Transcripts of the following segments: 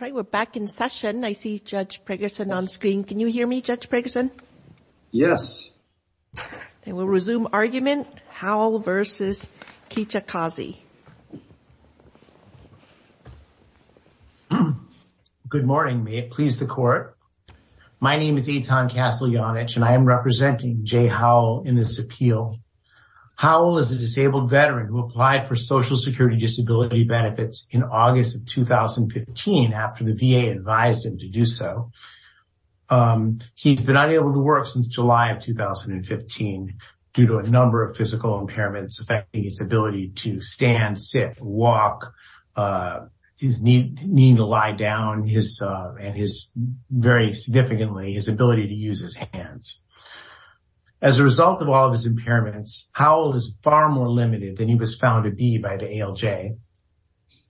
Good morning, may it please the court. My name is Eitan Casteljanic and I am representing Jay Howell in this appeal. Howell is a disabled veteran who applied for social security disability benefits in August of 2015 after the VA advised him to do so. He's been unable to work since July of 2015 due to a number of physical impairments affecting his ability to stand, sit, walk, uh, his need to lie down, his, uh, and his very significantly his ability to use his hands. As a result of all of his impairments, Howell is far more limited than he was found to be by the ALJ.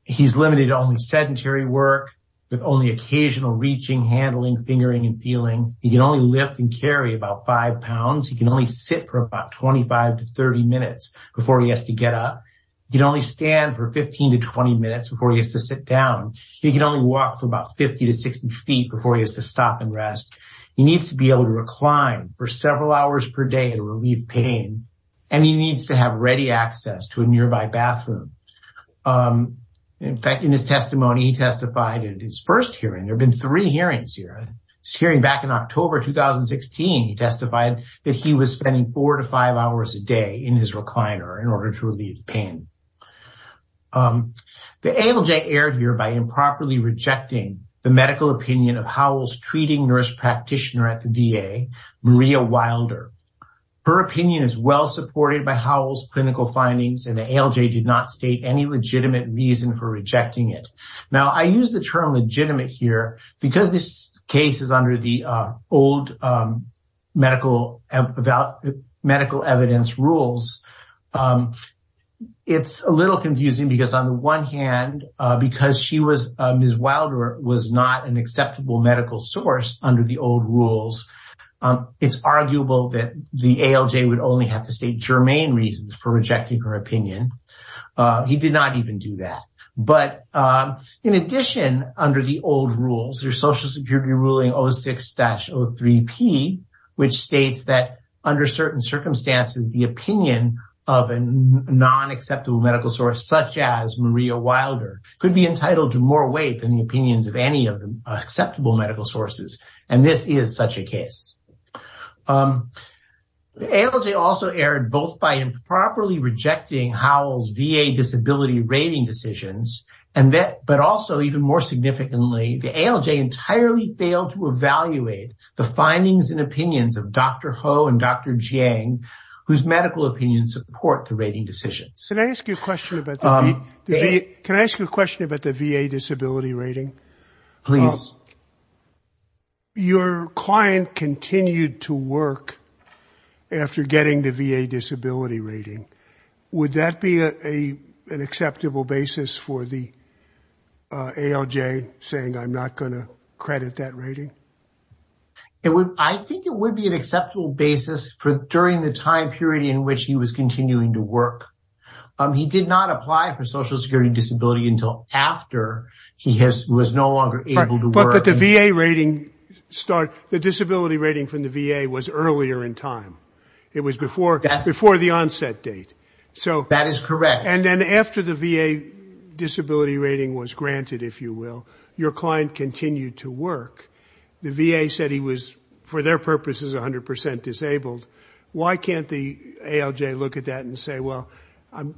He's limited to only sedentary work with only occasional reaching, handling, fingering, and feeling. He can only lift and carry about five pounds. He can only sit for about 25 to 30 minutes before he has to get up. He can only stand for 15 to 20 minutes before he has to sit down. He can only walk for about 50 to 60 feet before he has to stop and rest. He needs to be able to recline for several hours per day to relieve pain and he needs to have ready access to a nearby bathroom. In fact, in his testimony, he testified in his first hearing, there have been three hearings here, this hearing back in October 2016, he testified that he was spending four to five hours a day in his recliner in order to relieve the pain. The ALJ erred here by improperly rejecting the medical opinion of Howell's treating nurse practitioner at the VA, Maria Wilder. Her opinion is well supported by Howell's clinical findings and the ALJ did not state any legitimate reason for rejecting it. Now I use the term legitimate here because this case is under the old medical evidence rules. It's a little confusing because on the one hand, because Ms. Wilder was not an acceptable medical source under the old rules, it's arguable that the ALJ would only have to state germane reasons for rejecting her opinion. He did not even do that. But in addition, under the old rules, there's Social Security ruling 06-03P, which states that under certain circumstances, the opinion of a non-acceptable medical source such as Maria Wilder could be entitled to more weight than the opinions of any of the acceptable medical sources. And this is such a case. The ALJ also erred both by improperly and that but also even more significantly, the ALJ entirely failed to evaluate the findings and opinions of Dr. Ho and Dr. Jiang, whose medical opinions support the rating decisions. Can I ask you a question about the VA disability rating? Please. Your client continued to work after getting the VA disability rating. Would that be an acceptable basis for the ALJ saying, I'm not going to credit that rating? I think it would be an acceptable basis for during the time period in which he was continuing to work. He did not apply for Social Security disability until after he was no longer able to work. But the VA rating, the disability rating from the VA was earlier in time. It was before the onset date. That is correct. And then after the VA disability rating was granted, if you will, your client continued to work. The VA said he was, for their purposes, 100 percent disabled. Why can't the ALJ look at that and say, well, I'm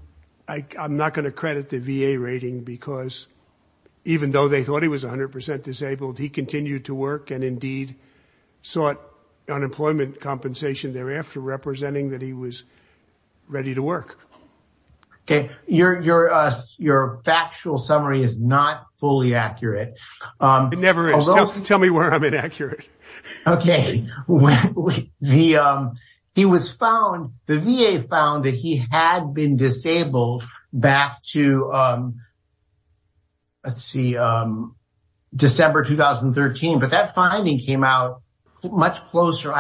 not going to credit the VA rating because even though they thought he was 100 percent disabled, he continued to work and indeed sought unemployment compensation thereafter, representing that he was ready to work. Okay. Your factual summary is not fully accurate. It never is. Tell me where I'm inaccurate. Okay. The VA found that he had been disabled back to, let's see, December 2013. But that came out much closer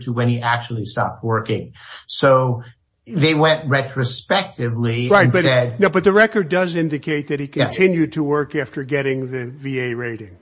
to when he actually stopped working. So they went retrospectively. But the record does indicate that he continued to work after getting the VA rating.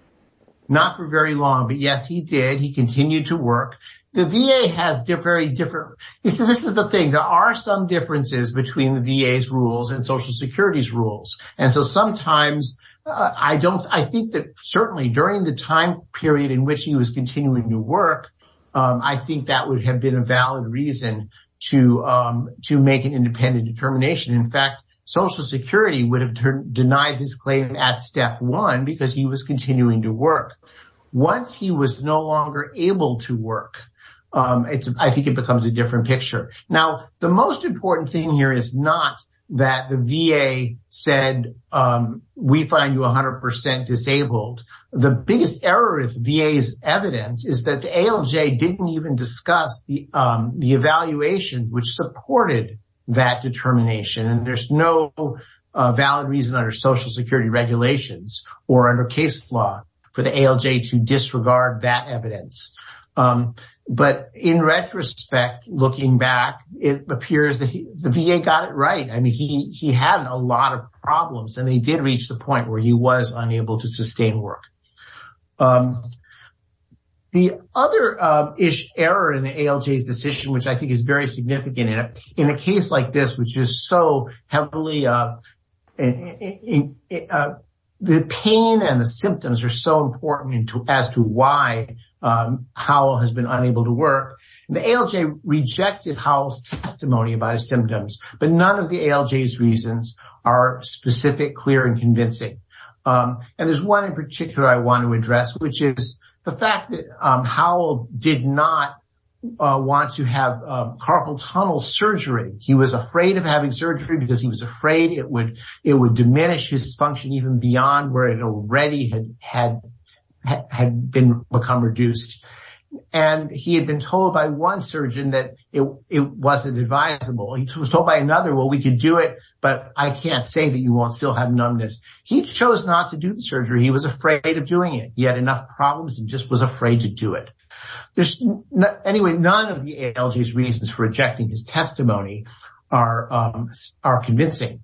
Not for very long. But yes, he did. He continued to work. The VA has very different. This is the thing. There are some differences between the VA's rules and Social Security's rules. And so sometimes I don't I think that certainly during the time period in which he was continuing to work, I think that would have been a valid reason to make an independent determination. In fact, Social Security would have denied his claim at step one because he was continuing to work. Once he was no longer able to work, I think it becomes a different picture. Now, the most important thing here is not that the VA said we find you 100 percent disabled. The biggest error with VA's evidence is that the ALJ didn't even discuss the evaluation which supported that determination. And there's no valid reason under Social Security regulations or under case law for the ALJ to disregard that evidence. But in retrospect, looking back, it appears that the VA got it right. I mean, he had a lot of problems and he did reach the point where he was unable to sustain work. The other error in the ALJ's decision, which I think is very significant in a case like this, which is so heavily, the pain and the symptoms are so important as to why Howell has been unable to work. The ALJ rejected Howell's testimony about his symptoms, but none of the ALJ's reasons are specific, clear and convincing. And there's one in particular I want to address, which is the fact that Howell did not want to have carpal tunnel surgery. He was afraid of having surgery because he was afraid it would diminish his function even beyond where it already had become reduced. And he had been told by one surgeon that it wasn't advisable. He was told by another, well, we could do it, but I can't say that you won't still have numbness. He chose not to do the surgery. He was afraid of doing it. He had enough problems and just was afraid to do it. Anyway, none of the ALJ's reasons for rejecting his testimony are convincing.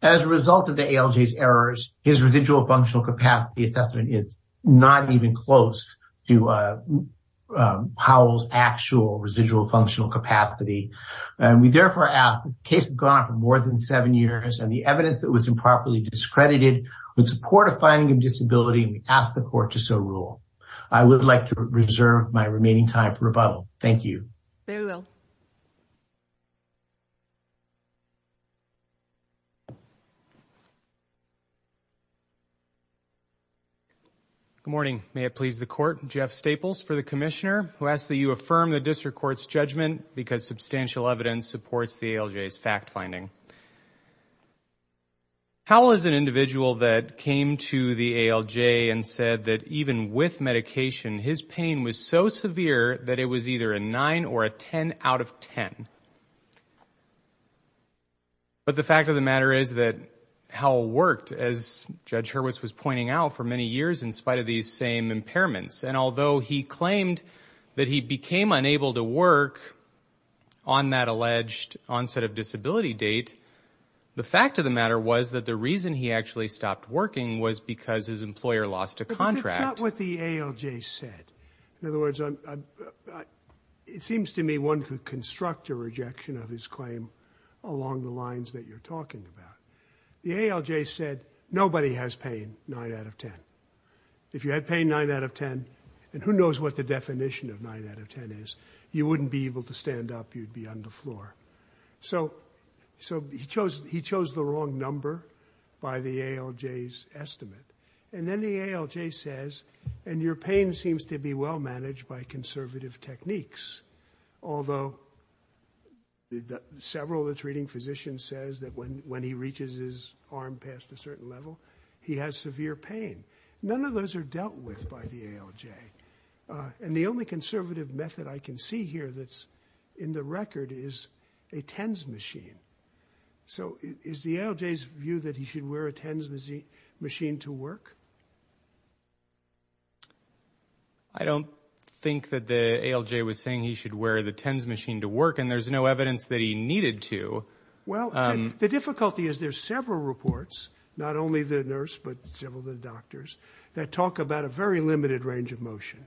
As a result of the ALJ's errors, his residual functional capacity is definitely not even close to Howell's actual functional capacity. We therefore ask that the case be gone for more than seven years, and the evidence that was improperly discredited with support of finding of disability, we ask the court to so rule. I would like to reserve my remaining time for rebuttal. Thank you. Good morning. May it please the court. Jeff Staples for the Commissioner, who asks that you affirm the District Court's judgment because substantial evidence supports the ALJ's fact-finding. Howell is an individual that came to the ALJ and said that even with medication, his pain was so severe that it was either a nine or a ten out of ten. But the fact of the matter is that Howell worked, as Judge Hurwitz was pointing out, for many years in spite of these same impairments. And although he claimed that he became unable to work on that alleged onset of disability date, the fact of the matter was that the reason he actually stopped working was because his employer lost a contract. But that's not what the ALJ said. In other words, it seems to me one could construct a rejection of his claim along the lines that you're talking about. The ALJ said nobody has pain nine out of ten. If you had pain nine out of ten, and who knows what the definition of nine out of ten is, you wouldn't be able to stand up, you'd be on the floor. So he chose the wrong number by the ALJ's estimate. And then the ALJ says, and your pain seems to be well managed by conservative techniques, although several of the treating physicians says that when he reaches his arm past a certain level, he has severe pain. None of those are dealt with by the ALJ. And the only conservative method I can see here that's in the record is a TENS machine. So is the ALJ's view that he should wear a TENS machine to work? I don't think that the ALJ was saying he should wear the TENS machine to work, and there's no Well, the difficulty is there's several reports, not only the nurse, but several of the doctors, that talk about a very limited range of motion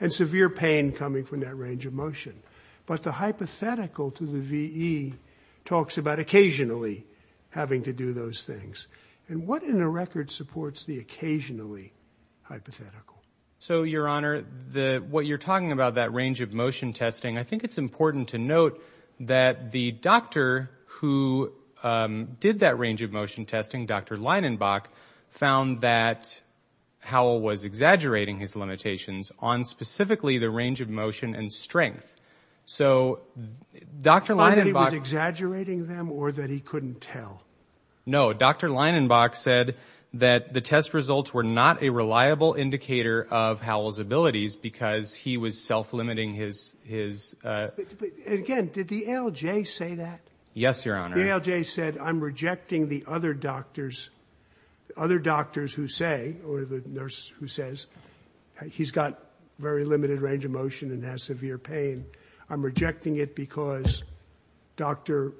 and severe pain coming from that range of motion. But the hypothetical to the VE talks about occasionally having to do those things. And what in the record supports the occasionally hypothetical? So, Your Honor, what you're talking about, that range of motion testing, I think it's important to note that the doctor who did that range of motion testing, Dr. Leinenbach, found that Howell was exaggerating his limitations on specifically the range of motion and strength. So Dr. Leinenbach... Thought he was exaggerating them or that he couldn't tell? No, Dr. Leinenbach said that the test results were not a reliable indicator of Howell's abilities because he was self-limiting his... Again, did the ALJ say that? Yes, Your Honor. The ALJ said, I'm rejecting the other doctors who say, or the nurse who says, he's got very limited range of motion and has severe pain. I'm rejecting it because Dr.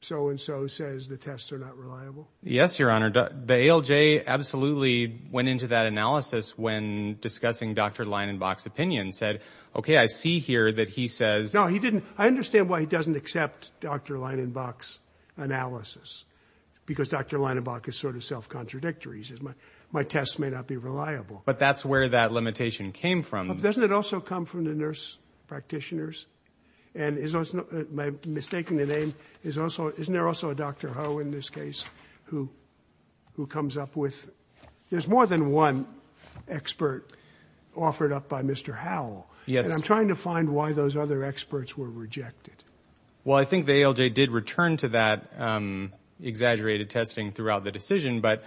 so-and-so says the tests are not reliable. Yes, Your Honor. The ALJ absolutely went into that analysis when discussing Dr. Leinenbach's opinion and said, okay, I see here that he says... No, he didn't. I understand why he doesn't accept Dr. Leinenbach's analysis, because Dr. Leinenbach is sort of self-contradictory. He says, my tests may not be reliable. But that's where that limitation came from. Doesn't it also come from the nurse practitioners? And my mistaking the name, isn't there also a Dr. Ho in this case who comes up with... There's more than one expert offered up by Mr. Howell. Yes. And I'm trying to find why those other experts were rejected. Well, I think the ALJ did return to that exaggerated testing throughout the decision. But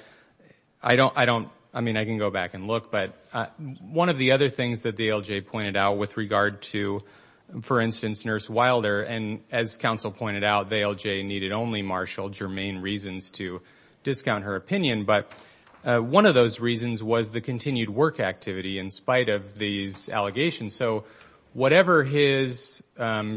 I don't... I mean, I can go back and look. But one of the other things that the ALJ pointed out with regard to, for instance, Nurse Wilder, and as counsel pointed out, the ALJ needed only marshal germane reasons to discount her opinion. But one of those reasons was the continued work activity in spite of these allegations. So whatever his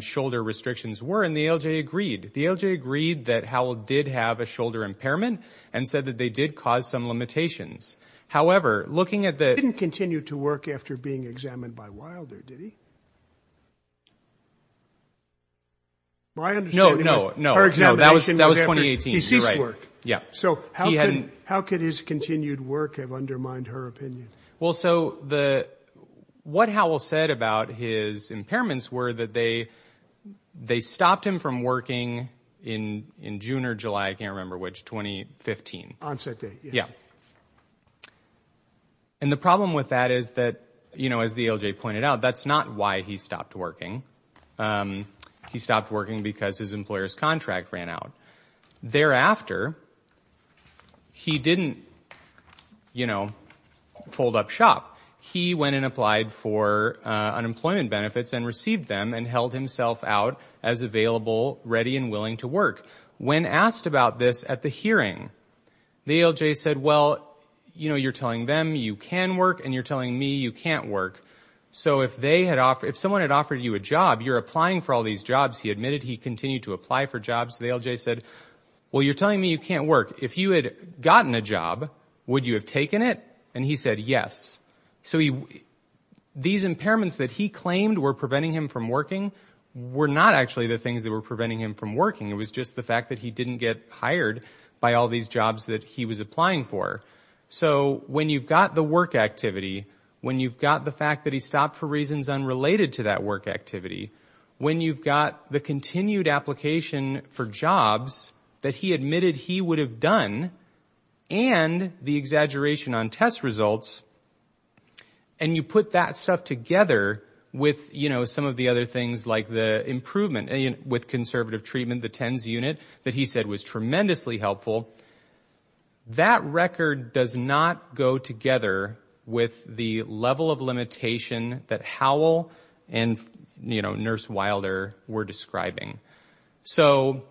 shoulder restrictions were, and the ALJ agreed. The ALJ agreed that Howell did have a shoulder impairment and said that they did cause some limitations. However, looking at the... He didn't continue to work after being examined by Wilder, did he? My understanding is... No, no, no. Her examination was after... That was 2018. He ceased work. Yeah. So how could his continued work have undermined her opinion? Well, so what Howell said about his impairments were that they stopped him from working in June or July, I can't remember which, 2015. On set date. Yeah. And the problem with that is that, you know, as the ALJ pointed out, that's not why he stopped working. He stopped working because his employer's contract ran out. Thereafter, he didn't, you know, fold up shop. He went and applied for unemployment benefits and received them and held himself out as available, ready and willing to work. When asked about this at the hearing, the ALJ said, well, you know, you're telling them you can work and you're telling me you can't work. So if someone had offered you a job, you're applying for all these jobs. He admitted he continued to apply for jobs. The ALJ said, well, you're telling me you can't work. If you had gotten a job, would you have taken it? And he said, yes. So these impairments that he claimed were preventing him from working were not actually the things that were preventing him from working. It was just the fact that he didn't get hired by all these jobs that he was applying for. So when you've got the work activity, when you've got the fact that he stopped for reasons unrelated to that work activity, when you've got the continued application for jobs that he admitted he would have done and the exaggeration on test results, and you put that stuff together with, you know, some of the other things like the improvement with conservative treatment, the TENS unit that he said was tremendously helpful, that record does not go together with the level of limitation that Howell and, you know, Nurse Wilder were describing. So,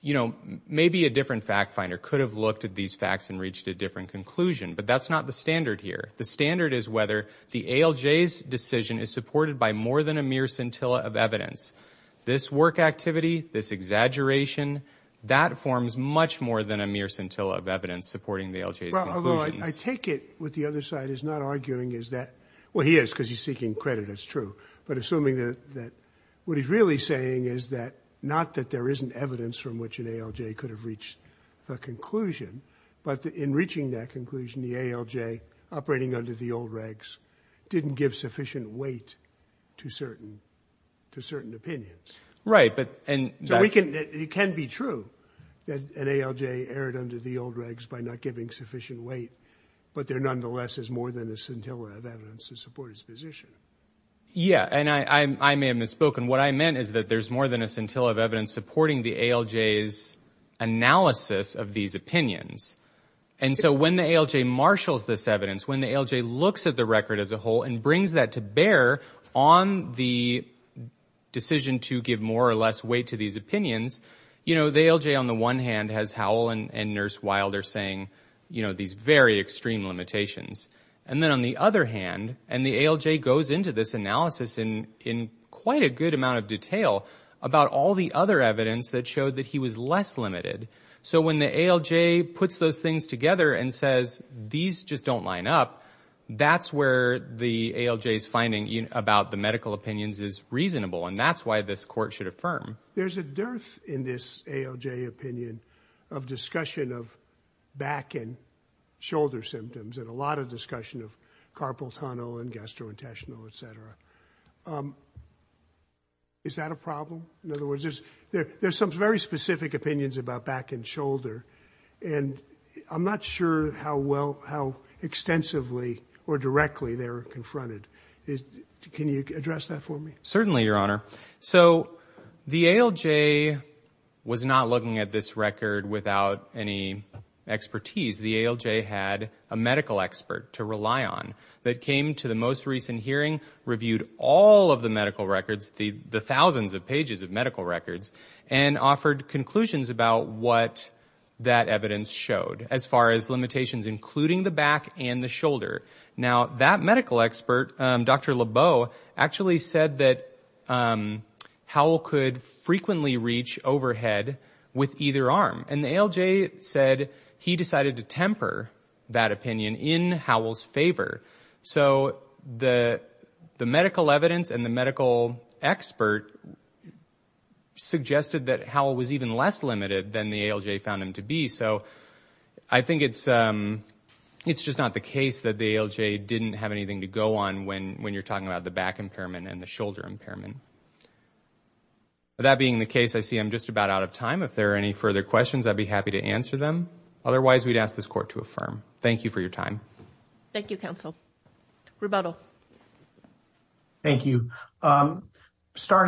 you know, maybe a different fact finder could have looked at these facts and reached a different conclusion, but that's not the standard here. The standard is whether the ALJ's decision is supported by more than a mere scintilla of evidence. This work activity, this exaggeration, that forms much more than a mere scintilla of evidence supporting the ALJ's conclusions. I take it what the other side is not arguing is that, well, he is because he's seeking credit, it's true, but assuming that what he's really saying is that, not that there isn't evidence from which an ALJ could have reached a conclusion, but in reaching that conclusion, the ALJ, operating under the old regs, didn't give sufficient weight to certain opinions. Right, but... So it can be true that an ALJ erred under the old regs by not giving sufficient weight, but there nonetheless is more than a scintilla of evidence to support his position. Yeah, and I may have misspoken. What I meant is that there's more than a scintilla of evidence supporting the ALJ's analysis of these opinions. And so when the ALJ marshals this evidence, when the ALJ looks at the record as a whole and brings that to bear on the decision to give more or less weight to these opinions, you know, the ALJ on the one hand has Howell and Nurse Wilder saying, you know, these very extreme limitations. And then on the other hand, and the ALJ goes into this analysis in quite a good amount of detail about all the other evidence that showed that he was less limited. So when the ALJ puts those things together and says, these just don't line up, that's where the ALJ's finding about the medical opinions is reasonable. And that's why this court should affirm. There's a dearth in this ALJ opinion of discussion of back and shoulder symptoms. And a lot of discussion of carpal tunnel and gastrointestinal, etc. Is that a problem? In other words, there's some very specific opinions about back and shoulder. And I'm not sure how well, how extensively or directly they're confronted. Can you address that for me? Certainly, Your Honor. So the ALJ was not looking at this record without any expertise. The ALJ had a medical expert to rely on that came to the most recent hearing, reviewed all of the medical records, the thousands of pages of medical records, and offered conclusions about what that evidence showed as far as limitations, including the back and the shoulder. Now, that medical expert, Dr. Lebeau, actually said that Howell could frequently reach overhead with either arm. And the ALJ said he decided to temper that opinion in Howell's favor. So the medical evidence and the medical expert suggested that Howell was even less limited than the ALJ found him to be. So I think it's just not the case that the ALJ didn't have anything to go on when you're talking about the back impairment and the shoulder impairment. With that being the case, I see I'm just about out of time. If there are any further questions, I'd be happy to answer them. Otherwise, we'd ask this court to affirm. Thank you for your time. Thank you, counsel. Rebuttal. Thank you. Going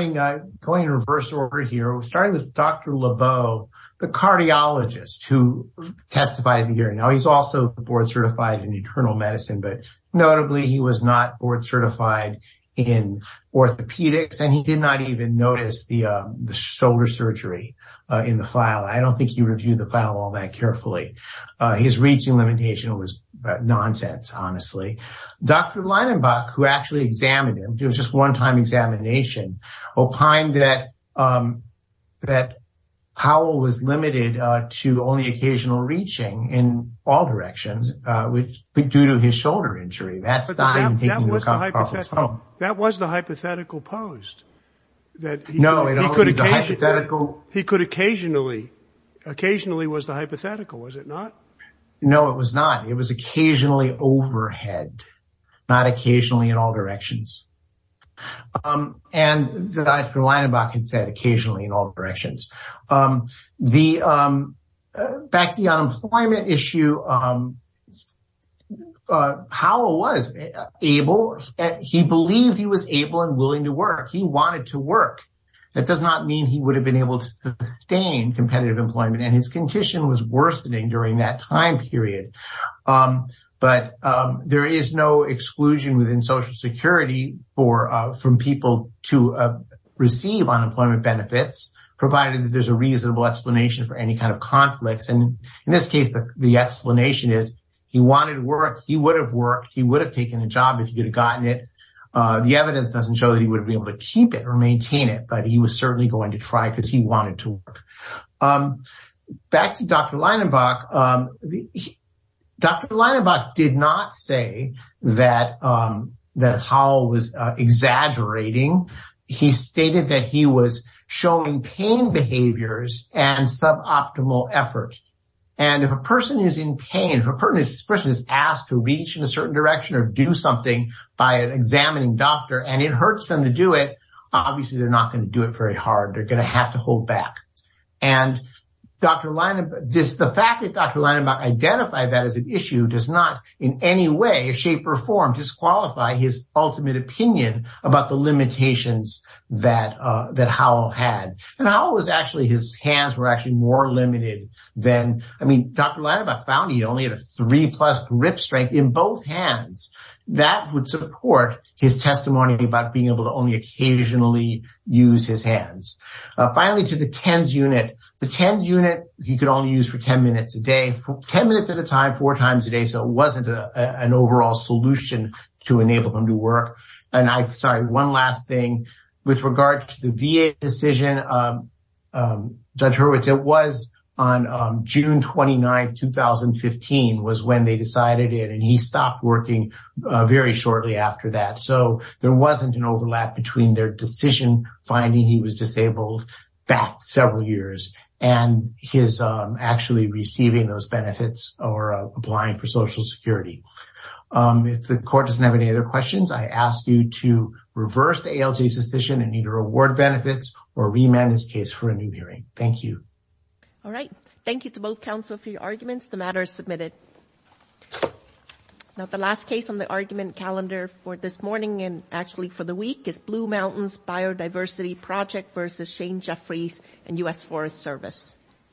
in reverse order here, we're starting with Dr. Lebeau, the cardiologist who testified in the hearing. Now, he's also board certified in internal medicine, but notably, he was not board certified in orthopedics, and he did not even notice the shoulder surgery in the file. I don't think he reviewed the file all that carefully. His reaching limitation was nonsense, honestly. Dr. Leibenbach, who actually examined him, it was just one time examination, opined that Howell was limited to only occasional reaching in all directions, due to his shoulder injury. That was the hypothetical post. He could occasionally. Occasionally was the hypothetical, was it not? No, it was not. It was occasionally overhead, not occasionally in all directions. And Dr. Leibenbach had said occasionally in all directions. Back to the unemployment issue, Howell was able, he believed he was able and willing to work. He wanted to work. That does not mean he would have been able to sustain competitive employment, and his condition was worsening during that time period. But there is no exclusion within Social Security from people to receive unemployment benefits, provided that there's a reasonable explanation for any kind of conflicts. And in this case, the explanation is he wanted to work. He would have worked. He would have taken a job if he could have gotten it. The evidence doesn't show that he would be able to keep it or maintain it, but he was certainly going to try because he wanted to work. Back to Dr. Leibenbach. Dr. Leibenbach did not say that Howell was exaggerating. He stated that he was showing pain behaviors and suboptimal effort. And if a person is in pain, if a person is asked to reach in a certain direction or do something by an examining doctor and it hurts them to do it, obviously, they're not going to do it very hard. They're going to have to hold back. And the fact that Dr. Leibenbach identified that as an issue does not in any way, shape or form disqualify his ultimate opinion about the limitations that Howell had. And Howell was actually, his hands were actually more limited than, I mean, Dr. Leibenbach found he only had a three plus grip strength in both hands. That would support his testimony about being able to only occasionally use his hands. Finally, to the TENS unit. The TENS unit, he could only use for 10 minutes a day, 10 minutes at a time, four times a day. So it wasn't an overall solution to enable him to work. And I'm sorry, one last thing with regard to the VA decision. Judge Hurwitz, it was on June 29th, 2015 was when they decided it. And he stopped working very shortly after that. So there wasn't an overlap between their decision finding he was disabled back several years and his actually receiving those benefits or applying for social security. If the court doesn't have any other questions, I ask you to reverse the ALJ's decision and either award benefits or remand this case for a new hearing. Thank you. All right. Thank you to both counsel for your arguments. The matter is submitted. Now, the last case on the argument calendar for this morning and actually for the week is Blue Mountains Biodiversity Project versus Shane Jeffries and US Forest Service.